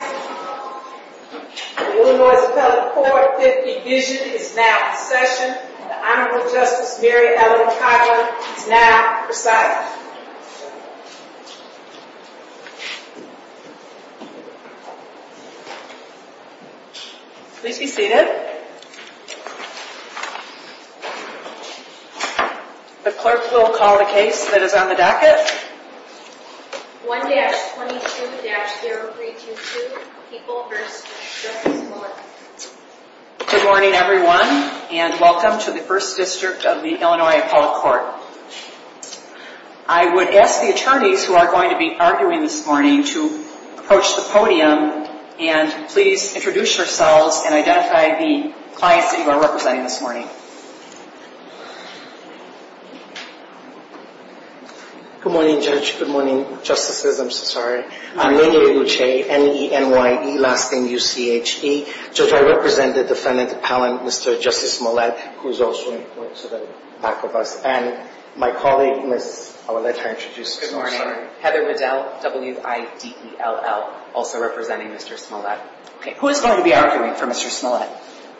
The Illinois Appellate 450 vision is now in session. The Honorable Justice Mary Ellen Tyler is now recited. Please be seated. The clerk will call the case that is on the docket. 1-22-0322 People v. Justice Smollett Good morning everyone and welcome to the First District of the Illinois Appellate Court. I would ask the attorneys who are going to be arguing this morning to approach the podium and please introduce yourselves and identify the clients that you are representing this morning. Good morning, Judge. Good morning, Justices. I'm so sorry. I'm Manuel Luce, N-E-N-Y-E, last name U-C-H-E. Judge, I represent the Defendant Appellant, Mr. Justice Smollett, who is also in front to the back of us. And my colleague, Miss, I will let her introduce herself. Good morning. Heather Middell, W-I-D-E-L-L, also representing Mr. Smollett. Who is going to be arguing for Mr. Smollett?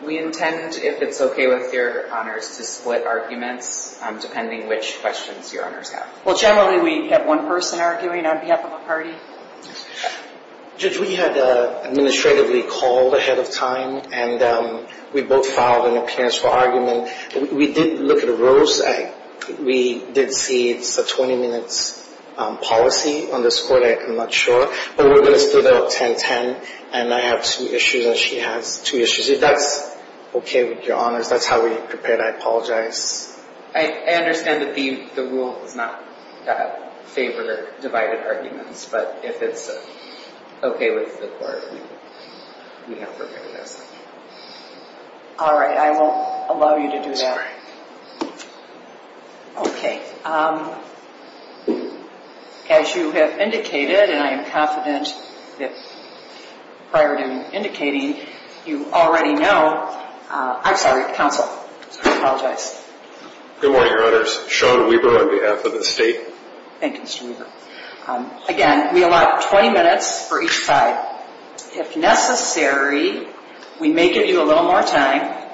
We intend, if it's okay with your honors, to split arguments depending on which questions your honors have. Well, generally we have one person arguing on behalf of a party. Judge, we had an administratively called ahead of time and we both filed an appearance for argument. We did look at the rules. We did see it's a 20-minute policy on this court. I'm not sure. But we're going to split it up 10-10. And I have two issues and she has two issues. If that's okay with your honors, that's how we prepared. I apologize. I understand that the rule does not favor divided arguments. But if it's okay with the court, we have prepared this. All right. I won't allow you to do that. Sorry. Okay. As you have indicated, and I am confident that prior to indicating, you already know. I'm sorry, counsel. I apologize. Good morning, your honors. Sean Weber on behalf of the state. Thank you, Mr. Weber. Again, we allow 20 minutes for each side. If necessary, we may give you a little more time.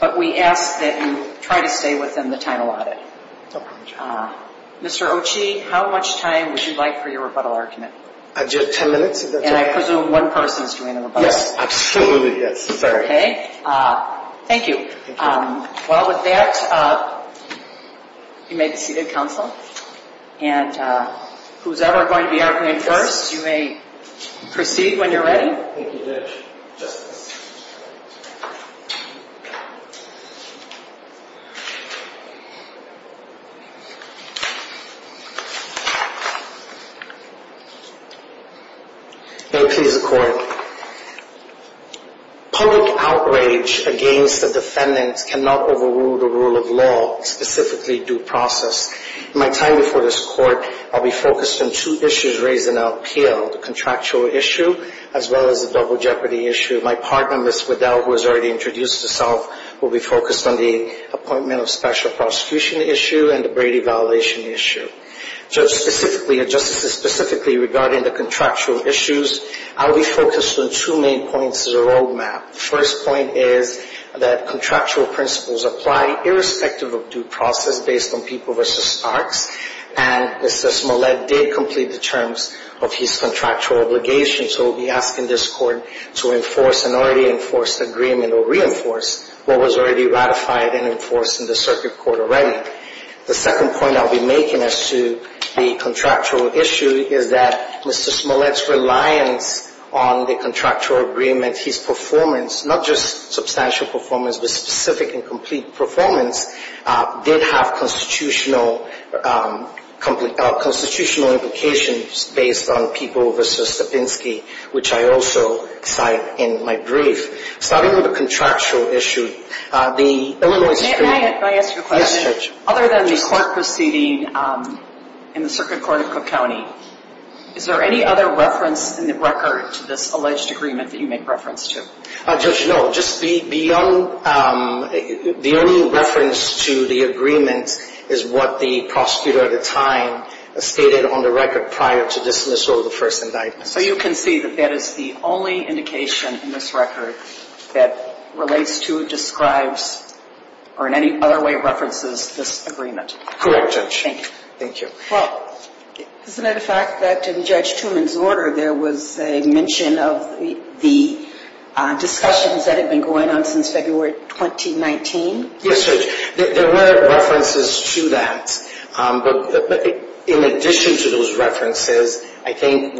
But we ask that you try to stay within the time allotted. Mr. Ochi, how much time would you like for your rebuttal argument? Ten minutes. And I presume one person is doing the rebuttal. Yes. Absolutely, yes. Okay. Thank you. Well, with that, you may be seated, counsel. And whosoever is going to be arguing first, you may proceed when you're ready. Thank you, Judge. May it please the court. Public outrage against the defendant cannot overrule the rule of law, specifically due process. In my time before this court, I'll be focused on two issues raised in LPL, the contractual issue, as well as the double jeopardy issue. My partner, Ms. Waddell, who has already introduced herself, will be focused on the appointment of special prosecution issue and the Brady violation issue. So specifically, justices, specifically regarding the contractual issues, I'll be focused on two main points as a roadmap. The first point is that contractual principles apply irrespective of due process based on people versus parks. And Mr. Smollett did complete the terms of his contractual obligation. So we'll be asking this court to enforce an already enforced agreement or reinforce what was already ratified and enforced in the circuit court already. The second point I'll be making as to the contractual issue is that Mr. Smollett's reliance on the contractual agreement, his performance, not just substantial performance, but specific and complete performance, did have constitutional implications based on people versus Sapinski, which I also cite in my brief. Starting with the contractual issue, the Illinois Supreme Court... May I ask you a question? Yes, Judge. Other than the court proceeding in the circuit court of Cook County, is there any other reference in the record to this alleged agreement that you make reference to? Judge, no. Just the only reference to the agreement is what the prosecutor at the time stated on the record prior to dismissal of the first indictment. So you can see that that is the only indication in this record that relates to, describes, or in any other way references this agreement? Correct, Judge. Thank you. Thank you. Well, isn't it a fact that in Judge Truman's order there was a mention of the discussions that had been going on since February 2019? Yes, Judge. There were references to that. But in addition to those references, I think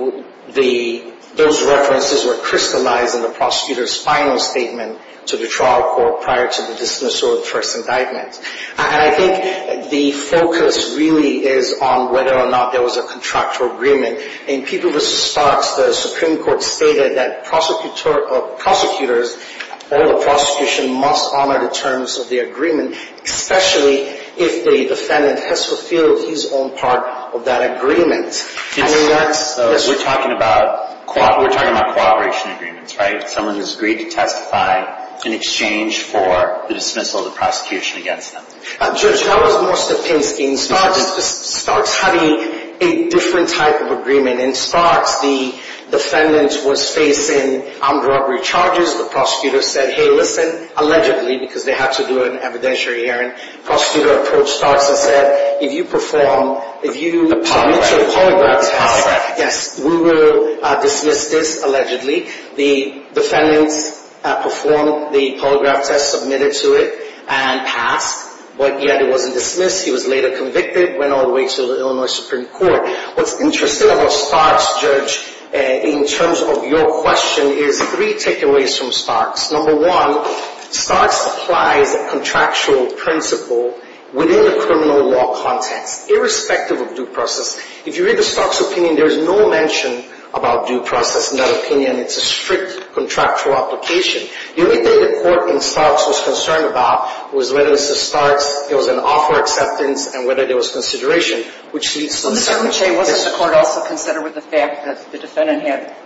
those references were crystallized in the prosecutor's final statement to the trial court prior to the dismissal of the first indictment. And I think the focus really is on whether or not there was a contractual agreement. In people versus Sparks, the Supreme Court stated that prosecutors or the prosecution must honor the terms of the agreement, especially if the defendant has fulfilled his own part of that agreement. We're talking about cooperation agreements, right? Someone has agreed to testify in exchange for the dismissal of the prosecution against them. Judge, that was more Stepinski. In Sparks, having a different type of agreement. In Sparks, the defendant was facing armed robbery charges. The prosecutor said, hey, listen. Allegedly, because they had to do it in evidentiary hearing, the prosecutor approached Sparks and said, if you perform, if you submit to a polygraph test. Yes, we will dismiss this, allegedly. The defendant performed the polygraph test, submitted to it, and passed. But yet it wasn't dismissed. He was later convicted, went all the way to the Illinois Supreme Court. What's interesting about Sparks, Judge, in terms of your question, is three takeaways from Sparks. Number one, Sparks applies a contractual principle within the criminal law context, irrespective of due process. If you read the Sparks opinion, there is no mention about due process in that opinion. It's a strict contractual application. The only thing the court in Sparks was concerned about was whether this is Sparks. It was an offer acceptance and whether there was consideration, which leads to this. Mr. Machay, wasn't the court also concerned with the fact that the defendant had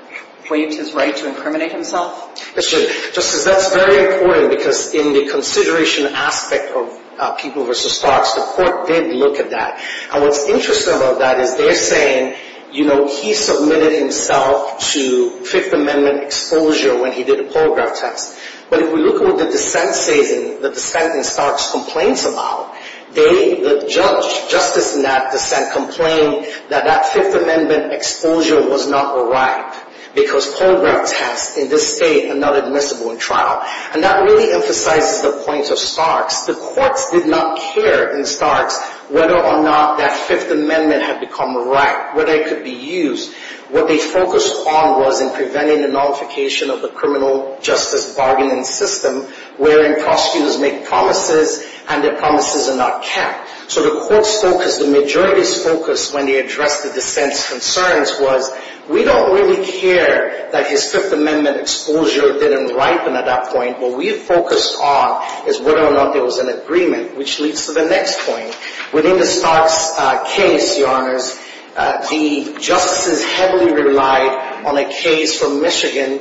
waived his right to incriminate himself? That's true. Justice, that's very important because in the consideration aspect of people versus Sparks, the court did look at that. And what's interesting about that is they're saying, you know, he submitted himself to Fifth Amendment exposure when he did a polygraph test. But if we look at what the dissent says and the dissent in Sparks complains about, they, the judge, justice in that dissent, complained that that Fifth Amendment exposure was not a right because polygraph tests in this state are not admissible in trial. And that really emphasizes the point of Sparks. The courts did not care in Sparks whether or not that Fifth Amendment had become a right, whether it could be used. What they focused on was in preventing the nullification of the criminal justice bargaining system wherein prosecutors make promises and their promises are not kept. So the court's focus, the majority's focus when they addressed the dissent's concerns was, we don't really care that his Fifth Amendment exposure didn't ripen at that point. What we focused on is whether or not there was an agreement, which leads to the next point. Within the Sparks case, Your Honors, the justices heavily relied on a case from Michigan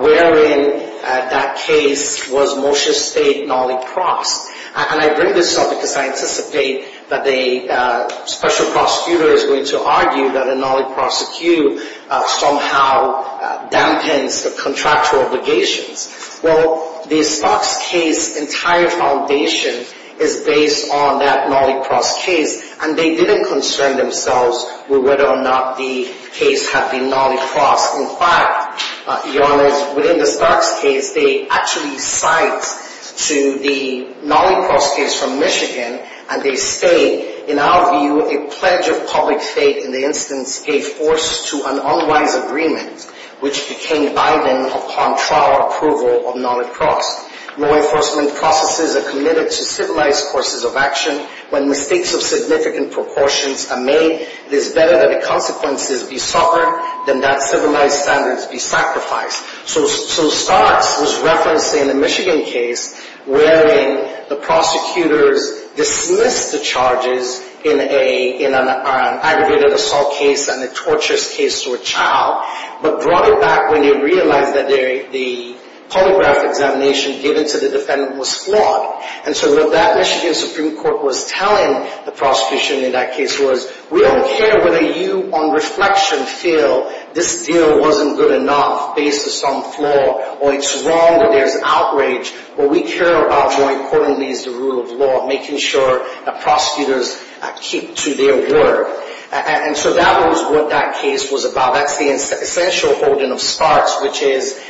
wherein that case was Moshe State, Nollie Cross. And I bring this up because I anticipate that a special prosecutor is going to argue that a Nollie prosecute somehow dampens the contractual obligations. Well, the Sparks case's entire foundation is based on that Nollie Cross case, and they didn't concern themselves with whether or not the case had been Nollie Cross. In fact, Your Honors, within the Sparks case, they actually cite to the Nollie Cross case from Michigan, and they state, in our view, a pledge of public faith in the instance gave force to an unwise agreement, which became Biden upon trial approval of Nollie Cross. Law enforcement processes are committed to civilized courses of action. When mistakes of significant proportions are made, it is better that the consequences be suffered than that civilized standards be sacrificed. So Sparks was referencing the Michigan case wherein the prosecutors dismissed the charges in an aggravated assault case and a torturous case to a child, but brought it back when they realized that the polygraph examination given to the defendant was flawed. And so what that Michigan Supreme Court was telling the prosecution in that case was, we don't care whether you on reflection feel this deal wasn't good enough based on some flaw, or it's wrong that there's outrage, what we care about more importantly is the rule of law, making sure that prosecutors keep to their word. And so that was what that case was about. That's the essential holding of Sparks, which is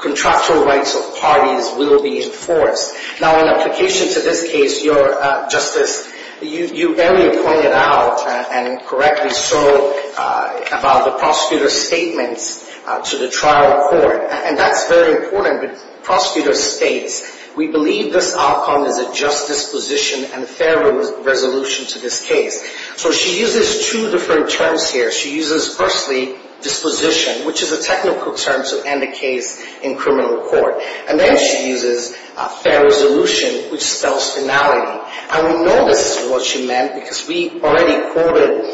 contractual rights of parties will be enforced. Now, in application to this case, Justice, you earlier pointed out, and correctly so, about the prosecutor's statements to the trial court. And that's very important. The prosecutor states, we believe this outcome is a justice position and a fair resolution to this case. So she uses two different terms here. She uses firstly disposition, which is a technical term to end a case in criminal court. And then she uses fair resolution, which spells finality. And we know this is what she meant because we already quoted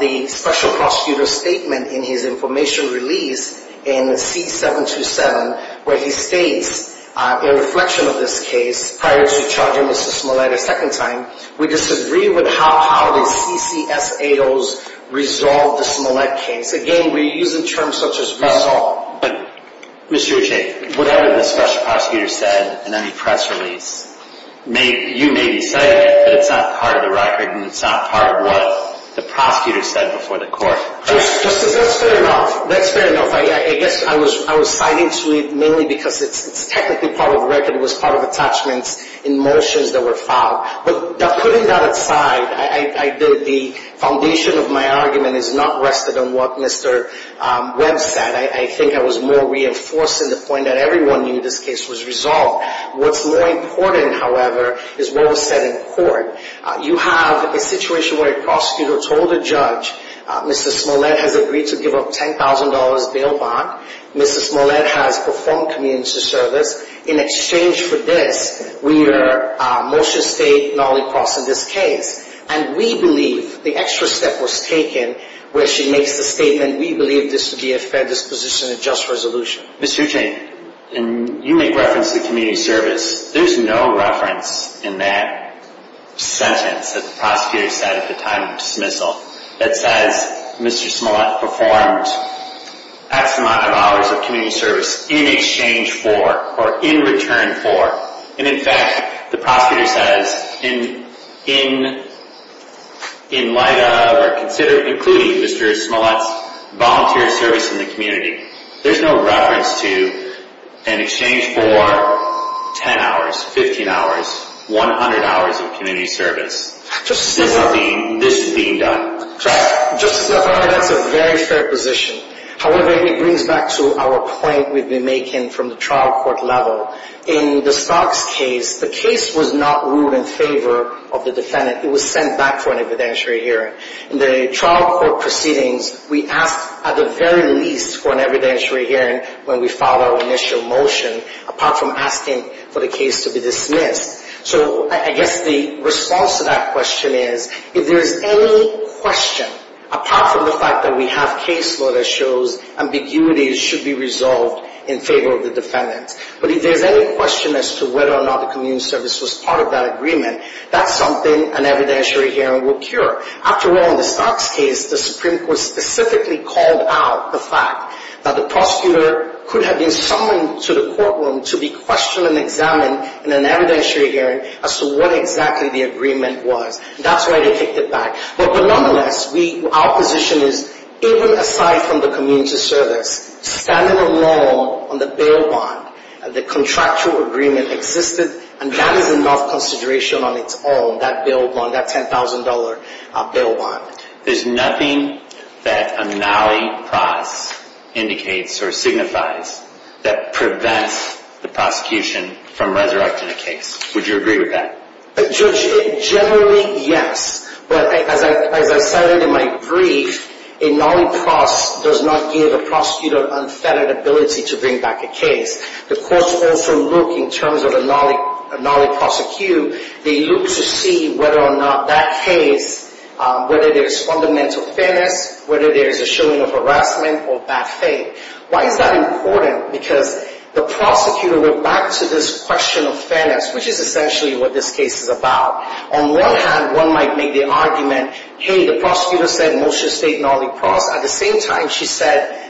the special prosecutor's statement in his information release in C-727, where he states, in reflection of this case, prior to charging Mr. Smollett a second time, we disagree with how the CCSAO's resolved the Smollett case. Again, we're using terms such as resolve. But, Mr. Uche, whatever the special prosecutor said in any press release, you may be citing it, but it's not part of the record and it's not part of what the prosecutor said before the court. Justice, that's fair enough. That's fair enough. I guess I was citing to it mainly because it's technically part of the record. It was part of attachments in motions that were filed. But putting that aside, the foundation of my argument is not rested on what Mr. Webb said. I think I was more reinforcing the point that everyone knew this case was resolved. What's more important, however, is what was said in court. You have a situation where a prosecutor told a judge, Mr. Smollett has agreed to give up $10,000 bail bond. Mr. Smollett has performed community service. In exchange for this, we are motion state non-repulse in this case. And we believe the extra step was taken where she makes the statement, we believe this would be a fair disposition and just resolution. Mr. Hucheng, you make reference to community service. There's no reference in that sentence that the prosecutor said at the time of dismissal that says Mr. Smollett performed X amount of hours of community service in exchange for or in return for. And in fact, the prosecutor says in light of or including Mr. Smollett's volunteer service in the community, there's no reference to an exchange for 10 hours, 15 hours, 100 hours of community service. This is being done. Justice, that's a very fair position. However, it brings back to our point we've been making from the trial court level. In the Starks case, the case was not ruled in favor of the defendant. It was sent back for an evidentiary hearing. In the trial court proceedings, we asked at the very least for an evidentiary hearing when we filed our initial motion, apart from asking for the case to be dismissed. So I guess the response to that question is if there's any question, apart from the fact that we have case law that shows ambiguity should be resolved in favor of the defendant. But if there's any question as to whether or not the community service was part of that agreement, that's something an evidentiary hearing will cure. After all, in the Starks case, the Supreme Court specifically called out the fact that the prosecutor could have been summoned to the courtroom to be questioned and examined in an evidentiary hearing as to what exactly the agreement was. That's why they kicked it back. But nonetheless, our position is even aside from the community service, standing alone on the bail bond, the contractual agreement existed, and that is enough consideration on its own, that bail bond, that $10,000 bail bond. There's nothing that a nollie pros indicates or signifies that prevents the prosecution from resurrecting a case. Would you agree with that? Judge, generally, yes. But as I said in my brief, a nollie pros does not give a prosecutor unfettered ability to bring back a case. The courts also look, in terms of a nollie prosecute, they look to see whether or not that case, whether there's fundamental fairness, whether there's a showing of harassment or bad faith. Why is that important? Because the prosecutor went back to this question of fairness, which is essentially what this case is about. On one hand, one might make the argument, hey, the prosecutor said motion to state nollie pros. At the same time, she said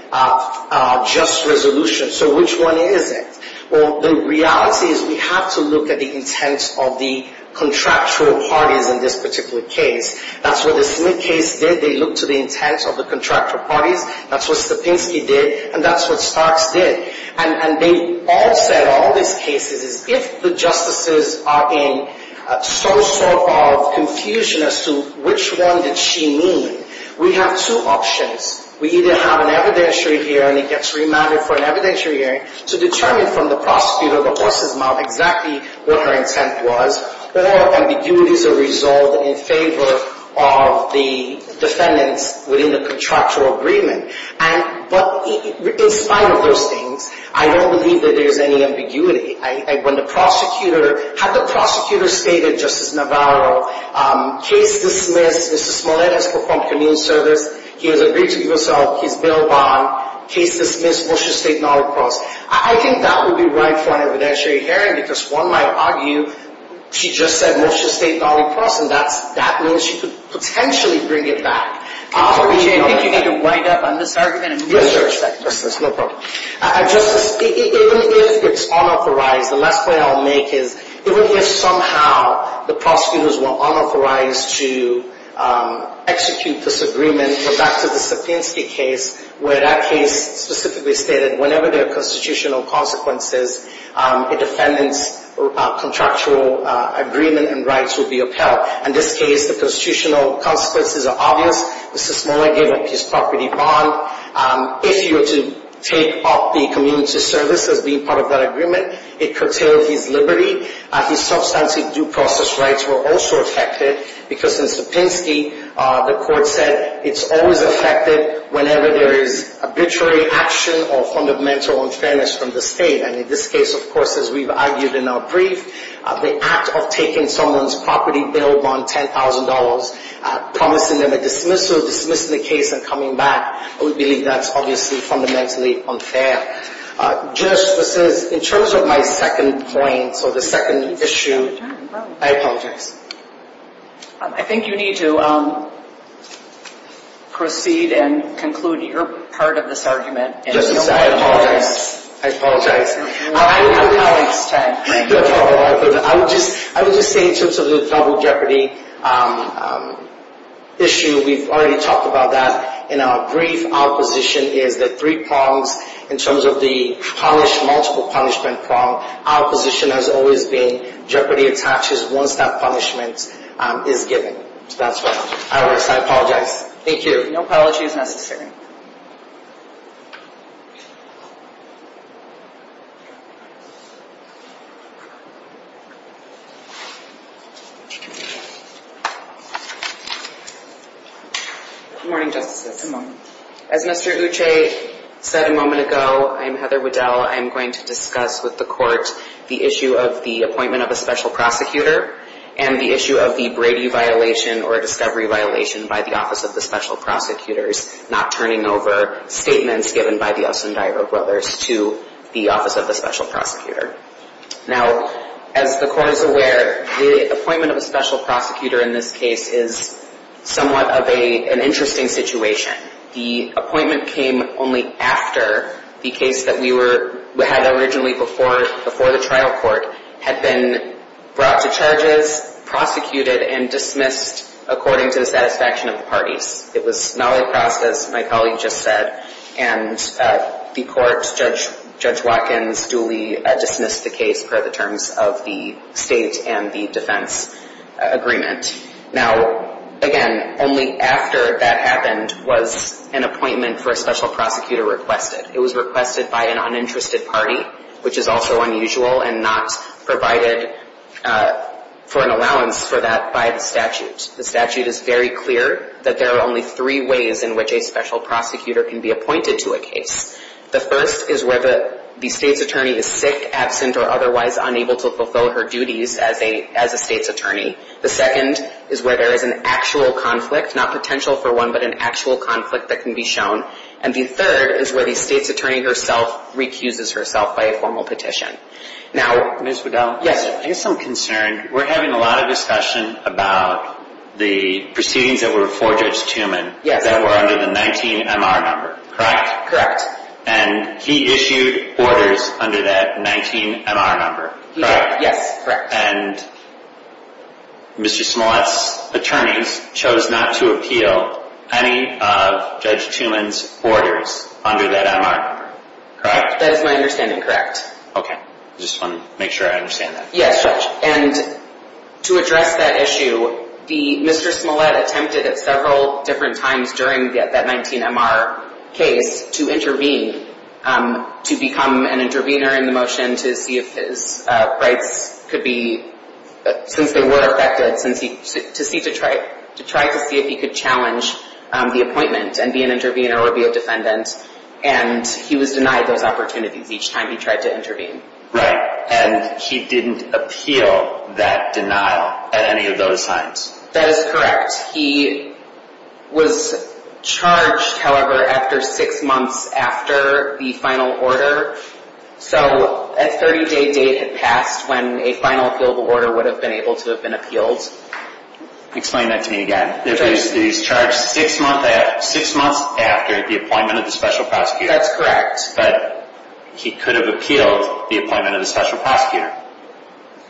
just resolution. So which one is it? Well, the reality is we have to look at the intent of the contractual parties in this particular case. That's what the Smith case did. They looked to the intent of the contractual parties. That's what Stepinski did, and that's what Starks did. And they all said, all these cases, if the justices are in some sort of confusion as to which one did she mean, we have two options. We either have an evidentiary hearing, it gets remanded for an evidentiary hearing, to determine from the prosecutor the horse's mouth exactly what her intent was, or ambiguities are resolved in favor of the defendants within the contractual agreement. But in spite of those things, I don't believe that there's any ambiguity. Had the prosecutor stated, Justice Navarro, case dismissed, Mr. Smollett has performed community service, he has agreed to give himself his bail bond, case dismissed, motion to state nollie pros. I think that would be right for an evidentiary hearing, because one might argue she just said motion to state nollie pros, and that means she could potentially bring it back. I think you need to wind up on this argument and research that. Justice, even if it's unauthorized, the last point I'll make is, even if somehow the prosecutors were unauthorized to execute this agreement, go back to the Sapienski case, where that case specifically stated whenever there are constitutional consequences, a defendant's contractual agreement and rights will be upheld. In this case, the constitutional consequences are obvious. Mr. Smollett gave up his property bond. If you were to take up the community service as being part of that agreement, it curtailed his liberty. His substantive due process rights were also affected, because in Sapienski, the court said it's always affected whenever there is arbitrary action or fundamental unfairness from the state. And in this case, of course, as we've argued in our brief, the act of taking someone's property bail bond, $10,000, promising them a dismissal, dismissing the case, and coming back, I would believe that's obviously fundamentally unfair. Justice, in terms of my second point, so the second issue, I apologize. I think you need to proceed and conclude your part of this argument. Justice, I apologize. I apologize. I would just say in terms of the double jeopardy issue, we've already talked about that. In our brief, our position is that three prongs, in terms of the punish, multiple punishment prong, our position has always been jeopardy attaches once that punishment is given. So that's why I apologize. Thank you. No apologies necessary. Good morning, Justices. Good morning. As Mr. Uche said a moment ago, I'm Heather Waddell. I'm going to discuss with the court the issue of the appointment of a special prosecutor and the issue of the Brady violation or discovery violation by the Office of the Special Prosecutors not turning over statements given by the Ossondagro brothers to the Office of the Special Prosecutor. Now, as the court is aware, the appointment of a special prosecutor in this case is somewhat of an interesting situation. The appointment came only after the case that we had originally before the trial court had been brought to charges, prosecuted, and dismissed according to the satisfaction of the parties. It was not a process, my colleague just said, and the court, Judge Watkins duly dismissed the case per the terms of the state and the defense agreement. Now, again, only after that happened was an appointment for a special prosecutor requested. It was requested by an uninterested party, which is also unusual, and not provided for an allowance for that by the statute. The statute is very clear that there are only three ways in which a special prosecutor can be appointed to a case. The first is where the state's attorney is sick, absent, or otherwise unable to fulfill her duties as a state's attorney. The second is where there is an actual conflict, not potential for one, but an actual conflict that can be shown. And the third is where the state's attorney herself recuses herself by a formal petition. Now, Ms. Waddell? Yes. I guess I'm concerned. We're having a lot of discussion about the proceedings that were before Judge Tuman that were under the 19MR number, correct? Correct. And he issued orders under that 19MR number, correct? Yes, correct. And Mr. Smollett's attorneys chose not to appeal any of Judge Tuman's orders under that MR number, correct? That is my understanding, correct. Okay. I just want to make sure I understand that. Yes, Judge. And to address that issue, Mr. Smollett attempted at several different times during that 19MR case to intervene, to become an intervener in the motion to see if his rights could be, since they were affected, to try to see if he could challenge the appointment and be an intervener or be a defendant. And he was denied those opportunities each time he tried to intervene. Right. And he didn't appeal that denial at any of those times? That is correct. He was charged, however, after six months after the final order. So a 30-day date had passed when a final appealable order would have been able to have been appealed. Explain that to me again. He was charged six months after the appointment of the special prosecutor. That's correct. But he could have appealed the appointment of the special prosecutor,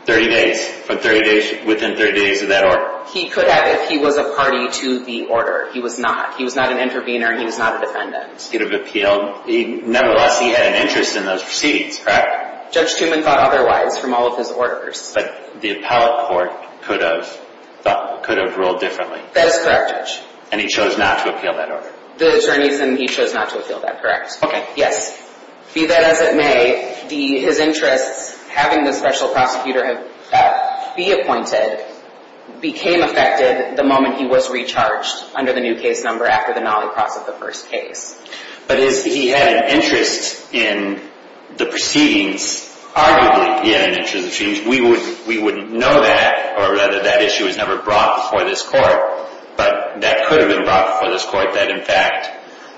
30 days, within 30 days of that order. He could have if he was a party to the order. He was not. He was not an intervener. He was not a defendant. He could have appealed. Nevertheless, he had an interest in those proceedings, correct? Judge Tuman thought otherwise from all of his orders. But the appellate court could have ruled differently. That is correct, Judge. And he chose not to appeal that order? The attorneys and he chose not to appeal that, correct. Okay. Yes. Be that as it may, his interests, having the special prosecutor be appointed, became affected the moment he was recharged under the new case number after the nollie cross of the first case. But he had an interest in the proceedings. Arguably, he had an interest in the proceedings. We wouldn't know that or whether that issue was ever brought before this court. But that could have been brought before this court. That, in fact,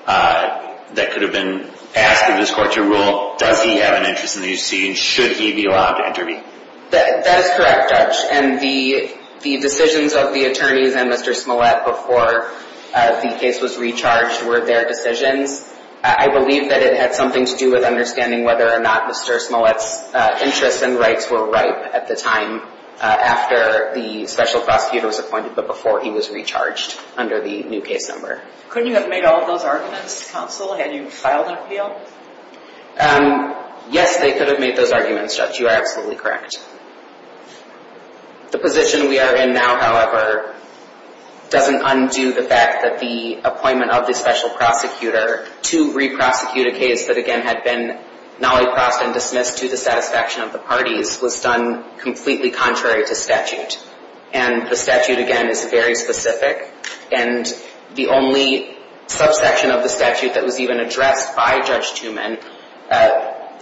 that could have been asked of this court to rule, does he have an interest in these proceedings? That is correct, Judge. And the decisions of the attorneys and Mr. Smollett before the case was recharged were their decisions. I believe that it had something to do with understanding whether or not Mr. Smollett's interests and rights were ripe at the time after the special prosecutor was appointed but before he was recharged under the new case number. Couldn't you have made all of those arguments, counsel, had you filed an appeal? Yes, they could have made those arguments, Judge. You are absolutely correct. The position we are in now, however, doesn't undo the fact that the appointment of the special prosecutor to re-prosecute a case that, again, had been nollie crossed and dismissed to the satisfaction of the parties was done completely contrary to statute. And the statute, again, is very specific. And the only subsection of the statute that was even addressed by Judge Tuman,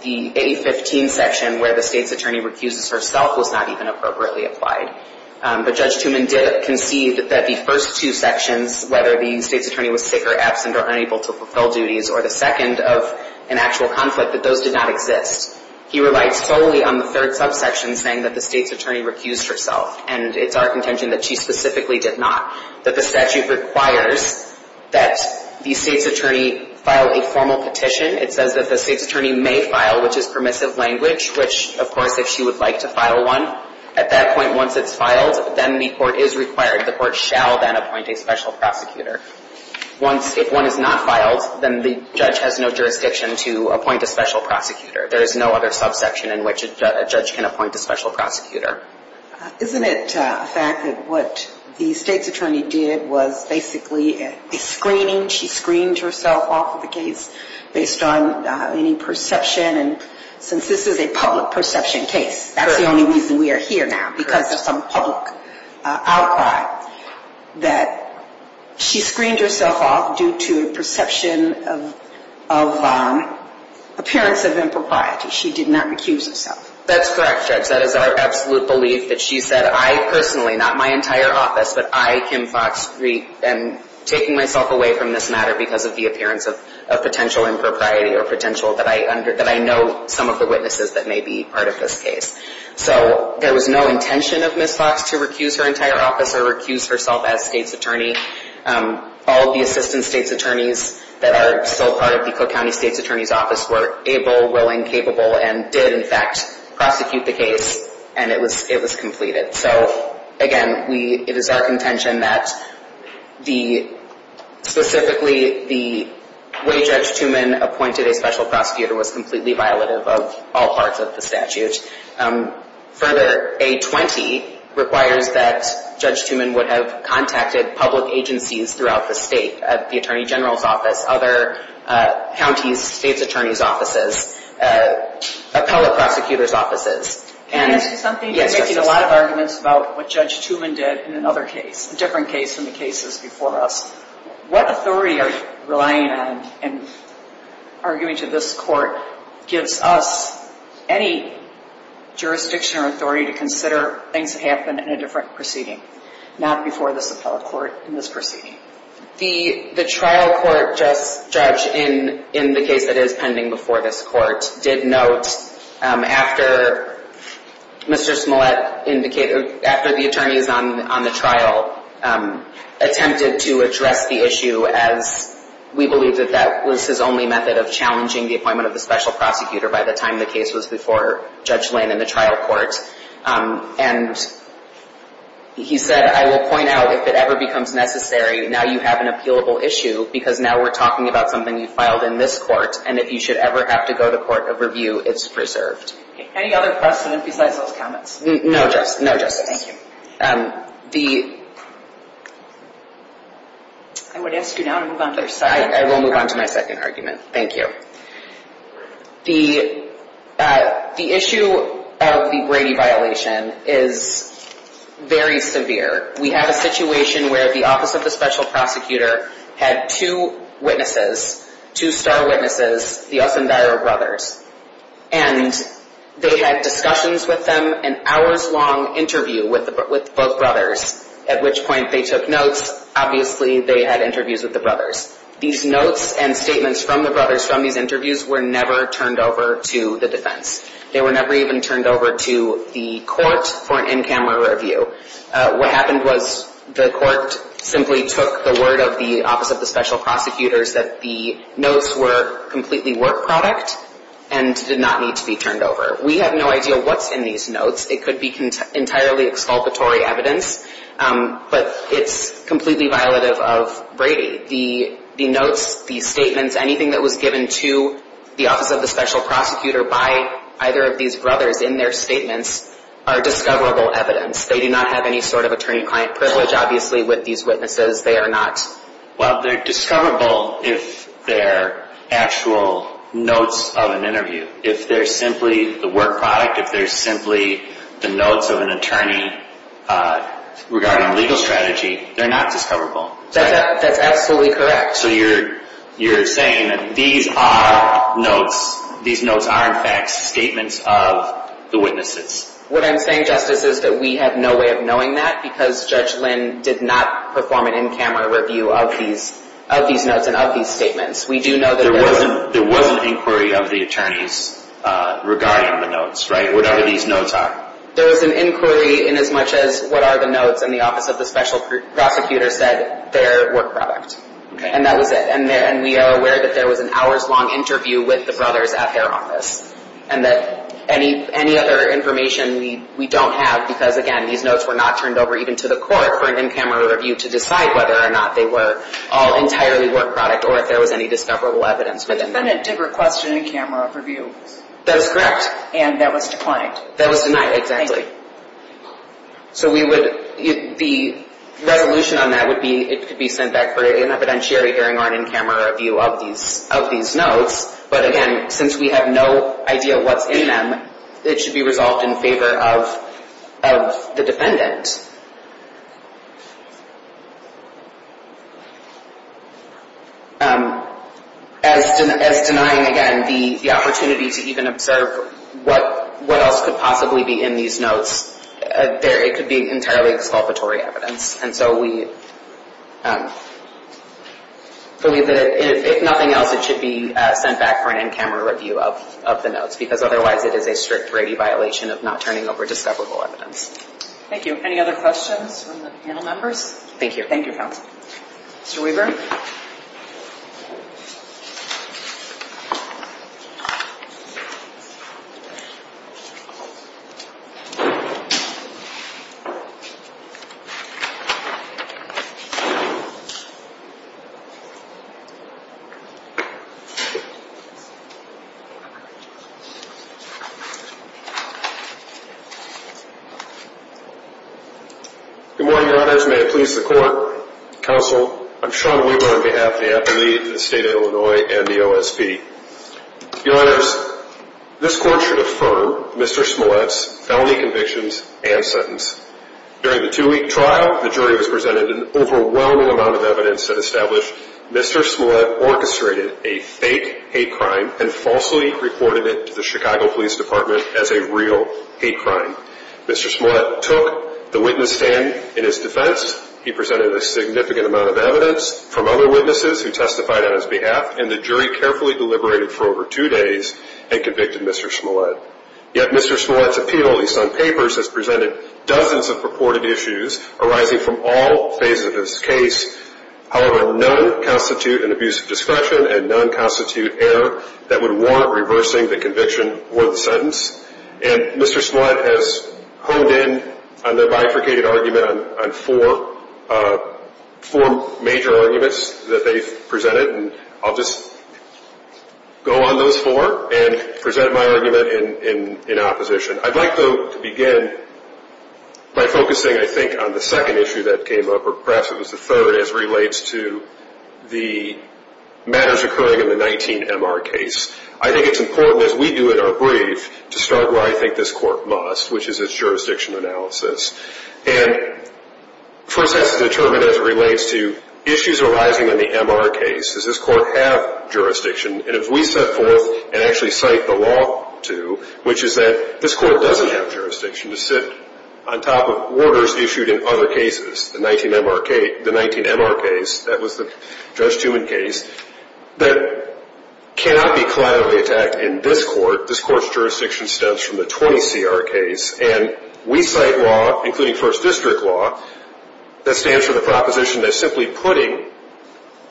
the 815 section where the state's attorney recuses herself was not even appropriately applied. But Judge Tuman did concede that the first two sections, whether the state's attorney was sick or absent or unable to fulfill duties, or the second of an actual conflict, that those did not exist. He relied solely on the third subsection saying that the state's attorney recused herself. And it's our contention that she specifically did not, that the statute requires that the state's attorney file a formal petition. It says that the state's attorney may file, which is permissive language, which, of course, if she would like to file one, at that point, once it's filed, then the court is required. The court shall then appoint a special prosecutor. Once, if one is not filed, then the judge has no jurisdiction to appoint a special prosecutor. There is no other subsection in which a judge can appoint a special prosecutor. Isn't it a fact that what the state's attorney did was basically a screening? She screened herself off of the case based on any perception? And since this is a public perception case, that's the only reason we are here now, because of some public outcry, that she screened herself off due to a perception of appearance of impropriety. She did not recuse herself. That's correct, Judge. That is our absolute belief that she said, I personally, not my entire office, but I, Kim Fox, am taking myself away from this matter because of the appearance of potential impropriety or potential that I know some of the witnesses that may be part of this case. So there was no intention of Ms. Fox to recuse her entire office or recuse herself as state's attorney. All of the assistant state's attorneys that are still part of the Cook County State's Attorney's Office were able, willing, capable, and did, in fact, prosecute the case, and it was completed. So, again, we, it is our contention that the, specifically, the way Judge Tuman appointed a special prosecutor was completely violative of all parts of the statute. Further, A-20 requires that Judge Tuman would have contacted public agencies throughout the state, the Attorney General's Office, other counties' state's attorney's offices, appellate prosecutor's offices. Can I ask you something? Yes, Justice. I'm curious about what Judge Tuman did in another case, a different case from the cases before us. What authority are you relying on in arguing to this court gives us any jurisdiction or authority to consider things that happen in a different proceeding, not before this appellate court in this proceeding? The trial court judge in the case that is pending before this court did note, after Mr. Smollett indicated, after the attorneys on the trial attempted to address the issue, as we believe that that was his only method of challenging the appointment of the special prosecutor by the time the case was before Judge Lane in the trial court, and he said, I will point out if it ever becomes necessary, now you have an appealable issue because now we're talking about something you filed in this court, and if you should ever have to go to court of review, it's preserved. Any other questions besides those comments? No, Justice. No, Justice. Thank you. I would ask you now to move on to your second argument. I will move on to my second argument. Thank you. The issue of the Brady violation is very severe. We have a situation where the Office of the Special Prosecutor had two witnesses, two star witnesses, the Ossendiro brothers, and they had discussions with them, an hours-long interview with both brothers, at which point they took notes. Obviously, they had interviews with the brothers. These notes and statements from the brothers from these interviews were never turned over to the defense. They were never even turned over to the court for an in-camera review. What happened was the court simply took the word of the Office of the Special Prosecutors that the notes were completely work product and did not need to be turned over. We have no idea what's in these notes. It could be entirely exculpatory evidence, but it's completely violative of Brady. The notes, the statements, anything that was given to the Office of the Special Prosecutor by either of these brothers in their statements are discoverable evidence. They do not have any sort of attorney-client privilege, obviously, with these witnesses. They are not... Well, they're discoverable if they're actual notes of an interview. If they're simply the work product, if they're simply the notes of an attorney regarding legal strategy, they're not discoverable. That's absolutely correct. So you're saying that these are notes. These notes are, in fact, statements of the witnesses. What I'm saying, Justice, is that we have no way of knowing that because Judge Lynn did not perform an in-camera review of these notes and of these statements. We do know that... There was an inquiry of the attorneys regarding the notes, right, whatever these notes are. There was an inquiry in as much as what are the notes, and the Office of the Special Prosecutor said they're work product. And that was it. And we are aware that there was an hours-long interview with the brothers at their office and that any other information we don't have, because, again, these notes were not turned over even to the court for an in-camera review to decide whether or not they were all entirely work product or if there was any discoverable evidence within them. The defendant did request an in-camera review. That is correct. And that was declined. That was denied. Exactly. So we would... The resolution on that would be it could be sent back for an evidentiary hearing or an in-camera review of these notes. But, again, since we have no idea what's in them, it should be resolved in favor of the defendant. As denying, again, the opportunity to even observe what else could possibly be in these notes, it could be entirely exculpatory evidence. And so we believe that if nothing else, it should be sent back for an in-camera review of the notes, because otherwise it is a strict Brady violation of not turning over discoverable evidence. Thank you. Any other questions? Any other questions from the panel members? Thank you. Thank you, counsel. Mr. Weaver? Good morning, Your Honors. May it please the Court. Counsel, I'm Sean Weaver on behalf of the athlete, the State of Illinois, and the OSB. Your Honors, this Court should affirm Mr. Smollett's felony convictions and sentence. During the two-week trial, the jury was presented with an overwhelming amount of evidence that established Mr. Smollett orchestrated a fake hate crime and falsely reported it to the Chicago Police Department as a real hate crime. Mr. Smollett took the witness stand in his defense. He presented a significant amount of evidence from other witnesses who testified on his behalf, and the jury carefully deliberated for over two days and convicted Mr. Smollett. Yet Mr. Smollett's appeal, at least on papers, has presented dozens of purported issues arising from all phases of his case. However, none constitute an abuse of discretion, and none constitute error that would warrant reversing the conviction or the sentence. And Mr. Smollett has honed in on their bifurcated argument on four major arguments that they've presented, and I'll just go on those four and present my argument in opposition. I'd like, though, to begin by focusing, I think, on the second issue that came up, or perhaps it was the third, as it relates to the matters occurring in the 19MR case. I think it's important, as we do in our brief, to start where I think this Court must, which is its jurisdiction analysis. And first has to determine, as it relates to issues arising in the MR case, does this Court have jurisdiction? And if we set forth and actually cite the law to, which is that this Court doesn't have jurisdiction to sit on top of orders issued in other cases, the 19MR case, that was the Judge Tewin case, that cannot be collaterally attacked in this Court. This Court's jurisdiction stems from the 20CR case. And we cite law, including First District law, that stands for the proposition that simply putting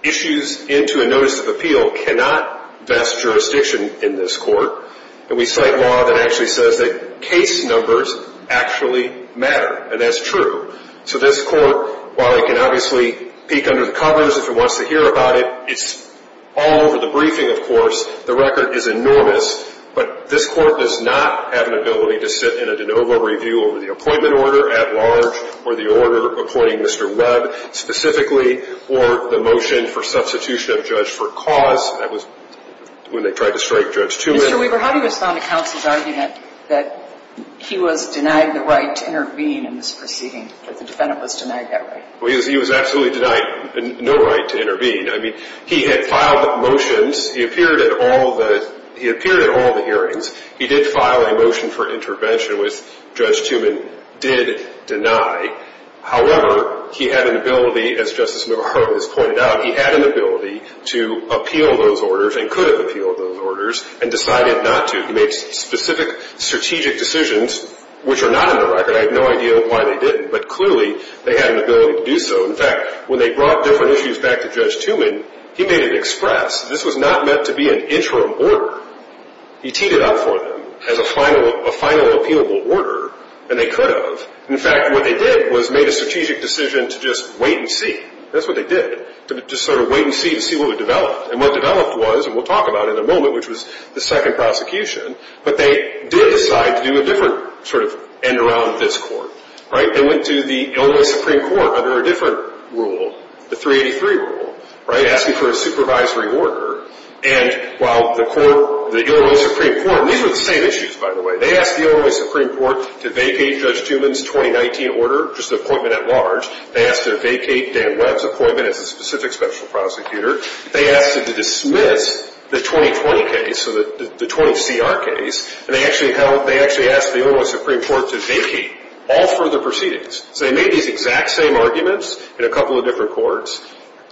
issues into a notice of appeal cannot vest jurisdiction in this Court. And we cite law that actually says that case numbers actually matter, and that's true. So this Court, while it can obviously peek under the covers if it wants to hear about it, it's all over the briefing, of course. The record is enormous. But this Court does not have an ability to sit in a de novo review over the appointment order at large or the order appointing Mr. Webb specifically or the motion for substitution of Judge for cause. That was when they tried to strike Judge Tewin. Mr. Weber, how do you respond to counsel's argument that he was denied the right to intervene in this proceeding, that the defendant was denied that right? Well, he was absolutely denied no right to intervene. I mean, he had filed motions. He appeared at all the hearings. He did file a motion for intervention, which Judge Tewin did deny. However, he had an ability, as Justice Navarro has pointed out, he had an ability to appeal those orders and could have appealed those orders and decided not to. He made specific strategic decisions, which are not in the record. I have no idea why they didn't, but clearly they had an ability to do so. In fact, when they brought different issues back to Judge Tewin, he made it express. This was not meant to be an interim order. He teed it up for them as a final appealable order, and they could have. In fact, what they did was made a strategic decision to just wait and see. That's what they did, to just sort of wait and see to see what would develop. And what developed was, and we'll talk about it in a moment, which was the second prosecution. But they did decide to do a different sort of end around this court. They went to the Illinois Supreme Court under a different rule, the 383 rule, asking for a supervisory order. And while the court, the Illinois Supreme Court, and these were the same issues, by the way. They asked the Illinois Supreme Court to vacate Judge Tewin's 2019 order, just the appointment at large. They asked to vacate Dan Webb's appointment as a specific special prosecutor. They asked him to dismiss the 2020 case, so the 20CR case. And they actually asked the Illinois Supreme Court to vacate all further proceedings. So they made these exact same arguments in a couple of different courts.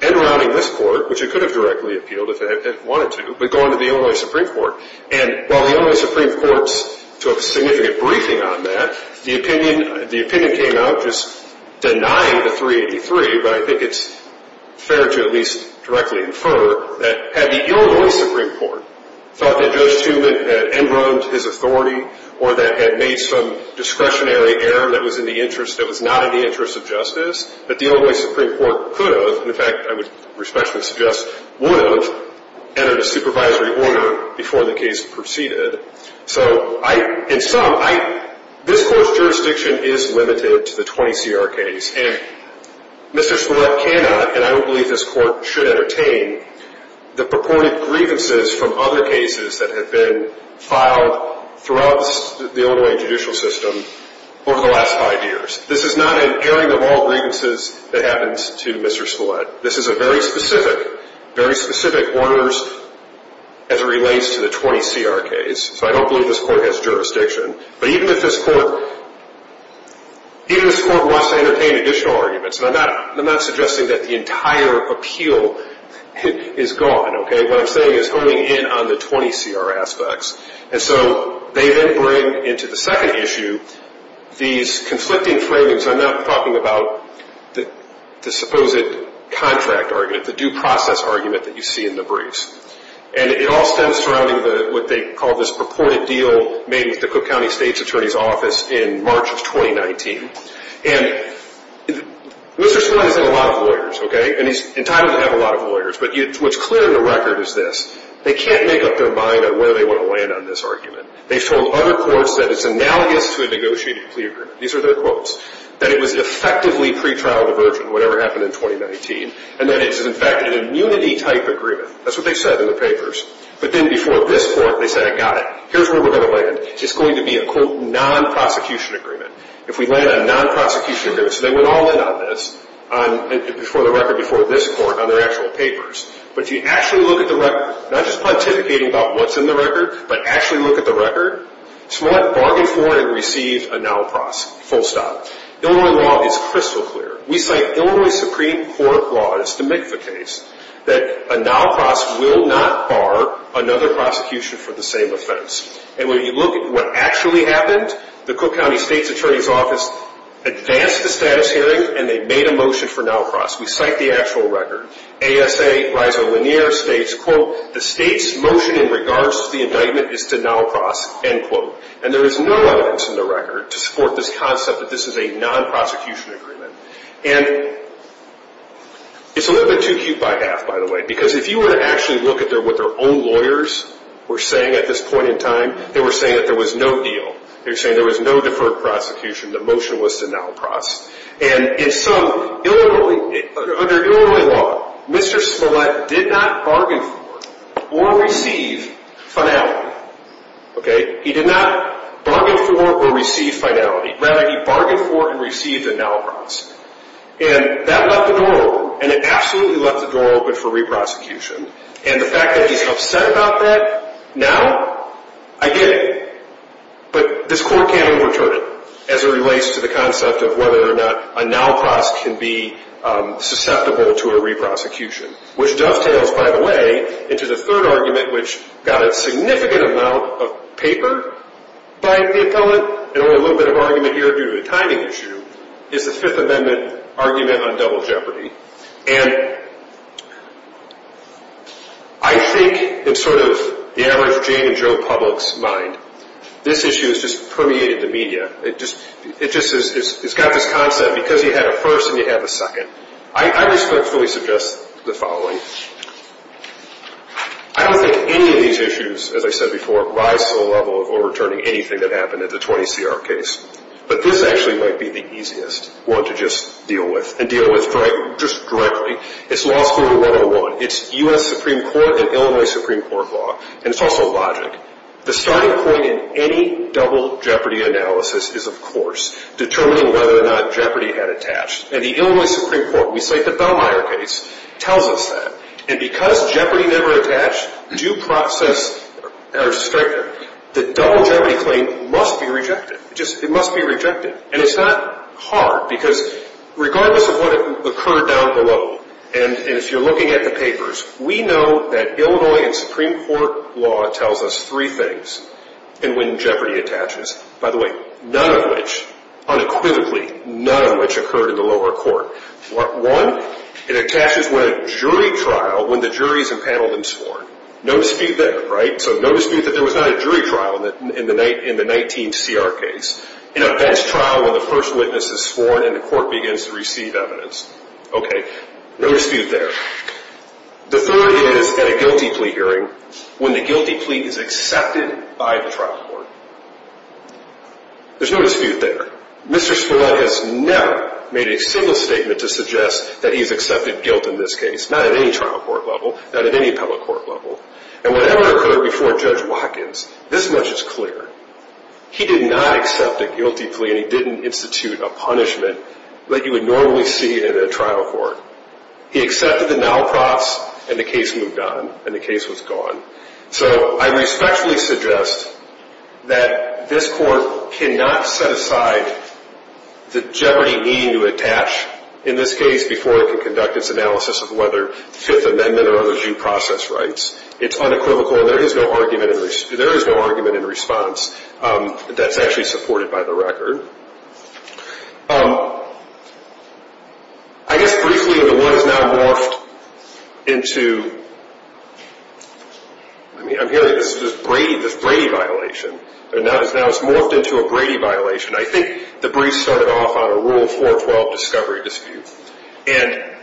End rounding this court, which it could have directly appealed if it wanted to, but going to the Illinois Supreme Court. And while the Illinois Supreme Courts took significant briefing on that, the opinion came out just denying the 383. But I think it's fair to at least directly infer that had the Illinois Supreme Court thought that Judge Tewin had end rounded his authority or that had made some discretionary error that was not in the interest of justice, that the Illinois Supreme Court could have, in fact, I would respectfully suggest, would have entered a supervisory order before the case proceeded. So in sum, this court's jurisdiction is limited to the 20CR case. And Mr. Spillett cannot, and I don't believe this court should entertain, the purported grievances from other cases that have been filed throughout the Illinois judicial system over the last five years. This is not an airing of all grievances that happens to Mr. Spillett. This is a very specific, very specific order as it relates to the 20CR case. So I don't believe this court has jurisdiction. But even if this court, even if this court wants to entertain additional arguments, and I'm not suggesting that the entire appeal is gone, okay? What I'm saying is honing in on the 20CR aspects. And so they then bring into the second issue these conflicting framings. I'm not talking about the supposed contract argument, the due process argument that you see in the briefs. And it all stems from what they call this purported deal made with the Cook County State's Attorney's Office in March of 2019. And Mr. Spillett has had a lot of lawyers, okay? And he's entitled to have a lot of lawyers. But what's clear in the record is this. They can't make up their mind on whether they want to land on this argument. They've told other courts that it's analogous to a negotiated plea agreement. These are their quotes. That it was effectively pretrial diversion, whatever happened in 2019. And that it is, in fact, an immunity-type agreement. That's what they said in the papers. But then before this court, they said, I got it. Here's where we're going to land. It's going to be a, quote, non-prosecution agreement. If we land a non-prosecution agreement. So they went all in on this before the record before this court on their actual papers. But if you actually look at the record, not just pontificating about what's in the record, but actually look at the record, Smollett bargained for and received a NALPROS, full stop. Illinois law is crystal clear. We cite Illinois Supreme Court law. And it's to make the case that a NALPROS will not bar another prosecution for the same offense. And when you look at what actually happened, the Cook County State's Attorney's Office advanced the status hearing, and they made a motion for NALPROS. We cite the actual record. ASA Reiser Lanier states, quote, the state's motion in regards to the indictment is to NALPROS, end quote. And there is no evidence in the record to support this concept that this is a non-prosecution agreement. And it's a little bit too cute by half, by the way. Because if you were to actually look at what their own lawyers were saying at this point in time, they were saying that there was no deal. They were saying there was no deferred prosecution. The motion was to NALPROS. And in sum, under Illinois law, Mr. Smollett did not bargain for or receive finality. Okay? He did not bargain for or receive finality. Rather, he bargained for and received a NALPROS. And that left the door open. And it absolutely left the door open for re-prosecution. And the fact that he's upset about that now, I get it. But this court can't overturn it as it relates to the concept of whether or not a NALPROS can be susceptible to a re-prosecution, which dovetails, by the way, into the third argument, which got a significant amount of paper by the appellate and only a little bit of argument here due to the timing issue, is the Fifth Amendment argument on double jeopardy. And I think in sort of the average Jane and Joe Publix mind, this issue has just permeated the media. It just has got this concept because you have a first and you have a second. I respectfully suggest the following. I don't think any of these issues, as I said before, rise to the level of overturning anything that happened in the 20CR case. But this actually might be the easiest one to just deal with and deal with just directly. It's law school 101. It's U.S. Supreme Court and Illinois Supreme Court law. And it's also logic. The starting point in any double jeopardy analysis is, of course, determining whether or not jeopardy had attached. And the Illinois Supreme Court, we cite the Bellmeyer case, tells us that. And because jeopardy never attached, due process are stricter. The double jeopardy claim must be rejected. It must be rejected. And it's not hard because regardless of what occurred down below, and if you're looking at the papers, we know that Illinois and Supreme Court law tells us three things in when jeopardy attaches. By the way, none of which, unequivocally, none of which occurred in the lower court. One, it attaches when a jury trial, when the jury's impaneled and sworn. No dispute there, right? So no dispute that there was not a jury trial in the 19CR case. In a bench trial, when the first witness is sworn and the court begins to receive evidence. Okay, no dispute there. The third is at a guilty plea hearing, when the guilty plea is accepted by the trial court. There's no dispute there. Mr. Spillett has never made a single statement to suggest that he has accepted guilt in this case, not at any trial court level, not at any appellate court level. And whatever occurred before Judge Watkins, this much is clear. He did not accept a guilty plea, and he didn't institute a punishment that you would normally see at a trial court. He accepted the NALPROFs, and the case moved on, and the case was gone. So I respectfully suggest that this court cannot set aside the jeopardy needing to attach in this case before it can conduct its analysis of whether Fifth Amendment or other due process rights. It's unequivocal, and there is no argument in response that's actually supported by the record. I guess briefly the word has now morphed into, I'm hearing this Brady violation. Now it's morphed into a Brady violation. I think the brief started off on a Rule 412 discovery dispute. And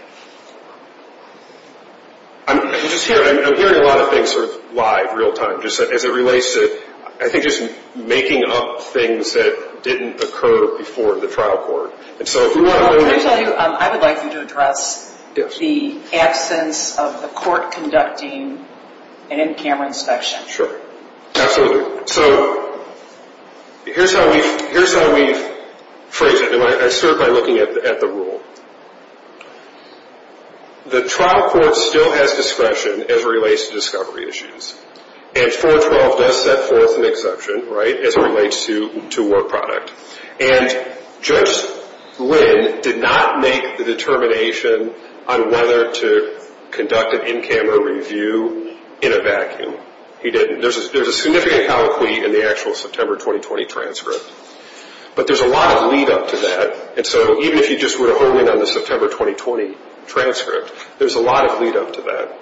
I'm hearing a lot of things sort of live, real time, just as it relates to, I think, just making up things that didn't occur before the trial court. Can I tell you, I would like you to address the absence of the court conducting an in-camera inspection. Sure, absolutely. So here's how we phrase it, and I start by looking at the rule. The trial court still has discretion as it relates to discovery issues. And 412 does set forth an exception, right, as it relates to war product. And Judge Lynn did not make the determination on whether to conduct an in-camera review in a vacuum. He didn't. There's a significant colloquy in the actual September 2020 transcript. But there's a lot of lead up to that. And so even if you just were to hone in on the September 2020 transcript, there's a lot of lead up to that.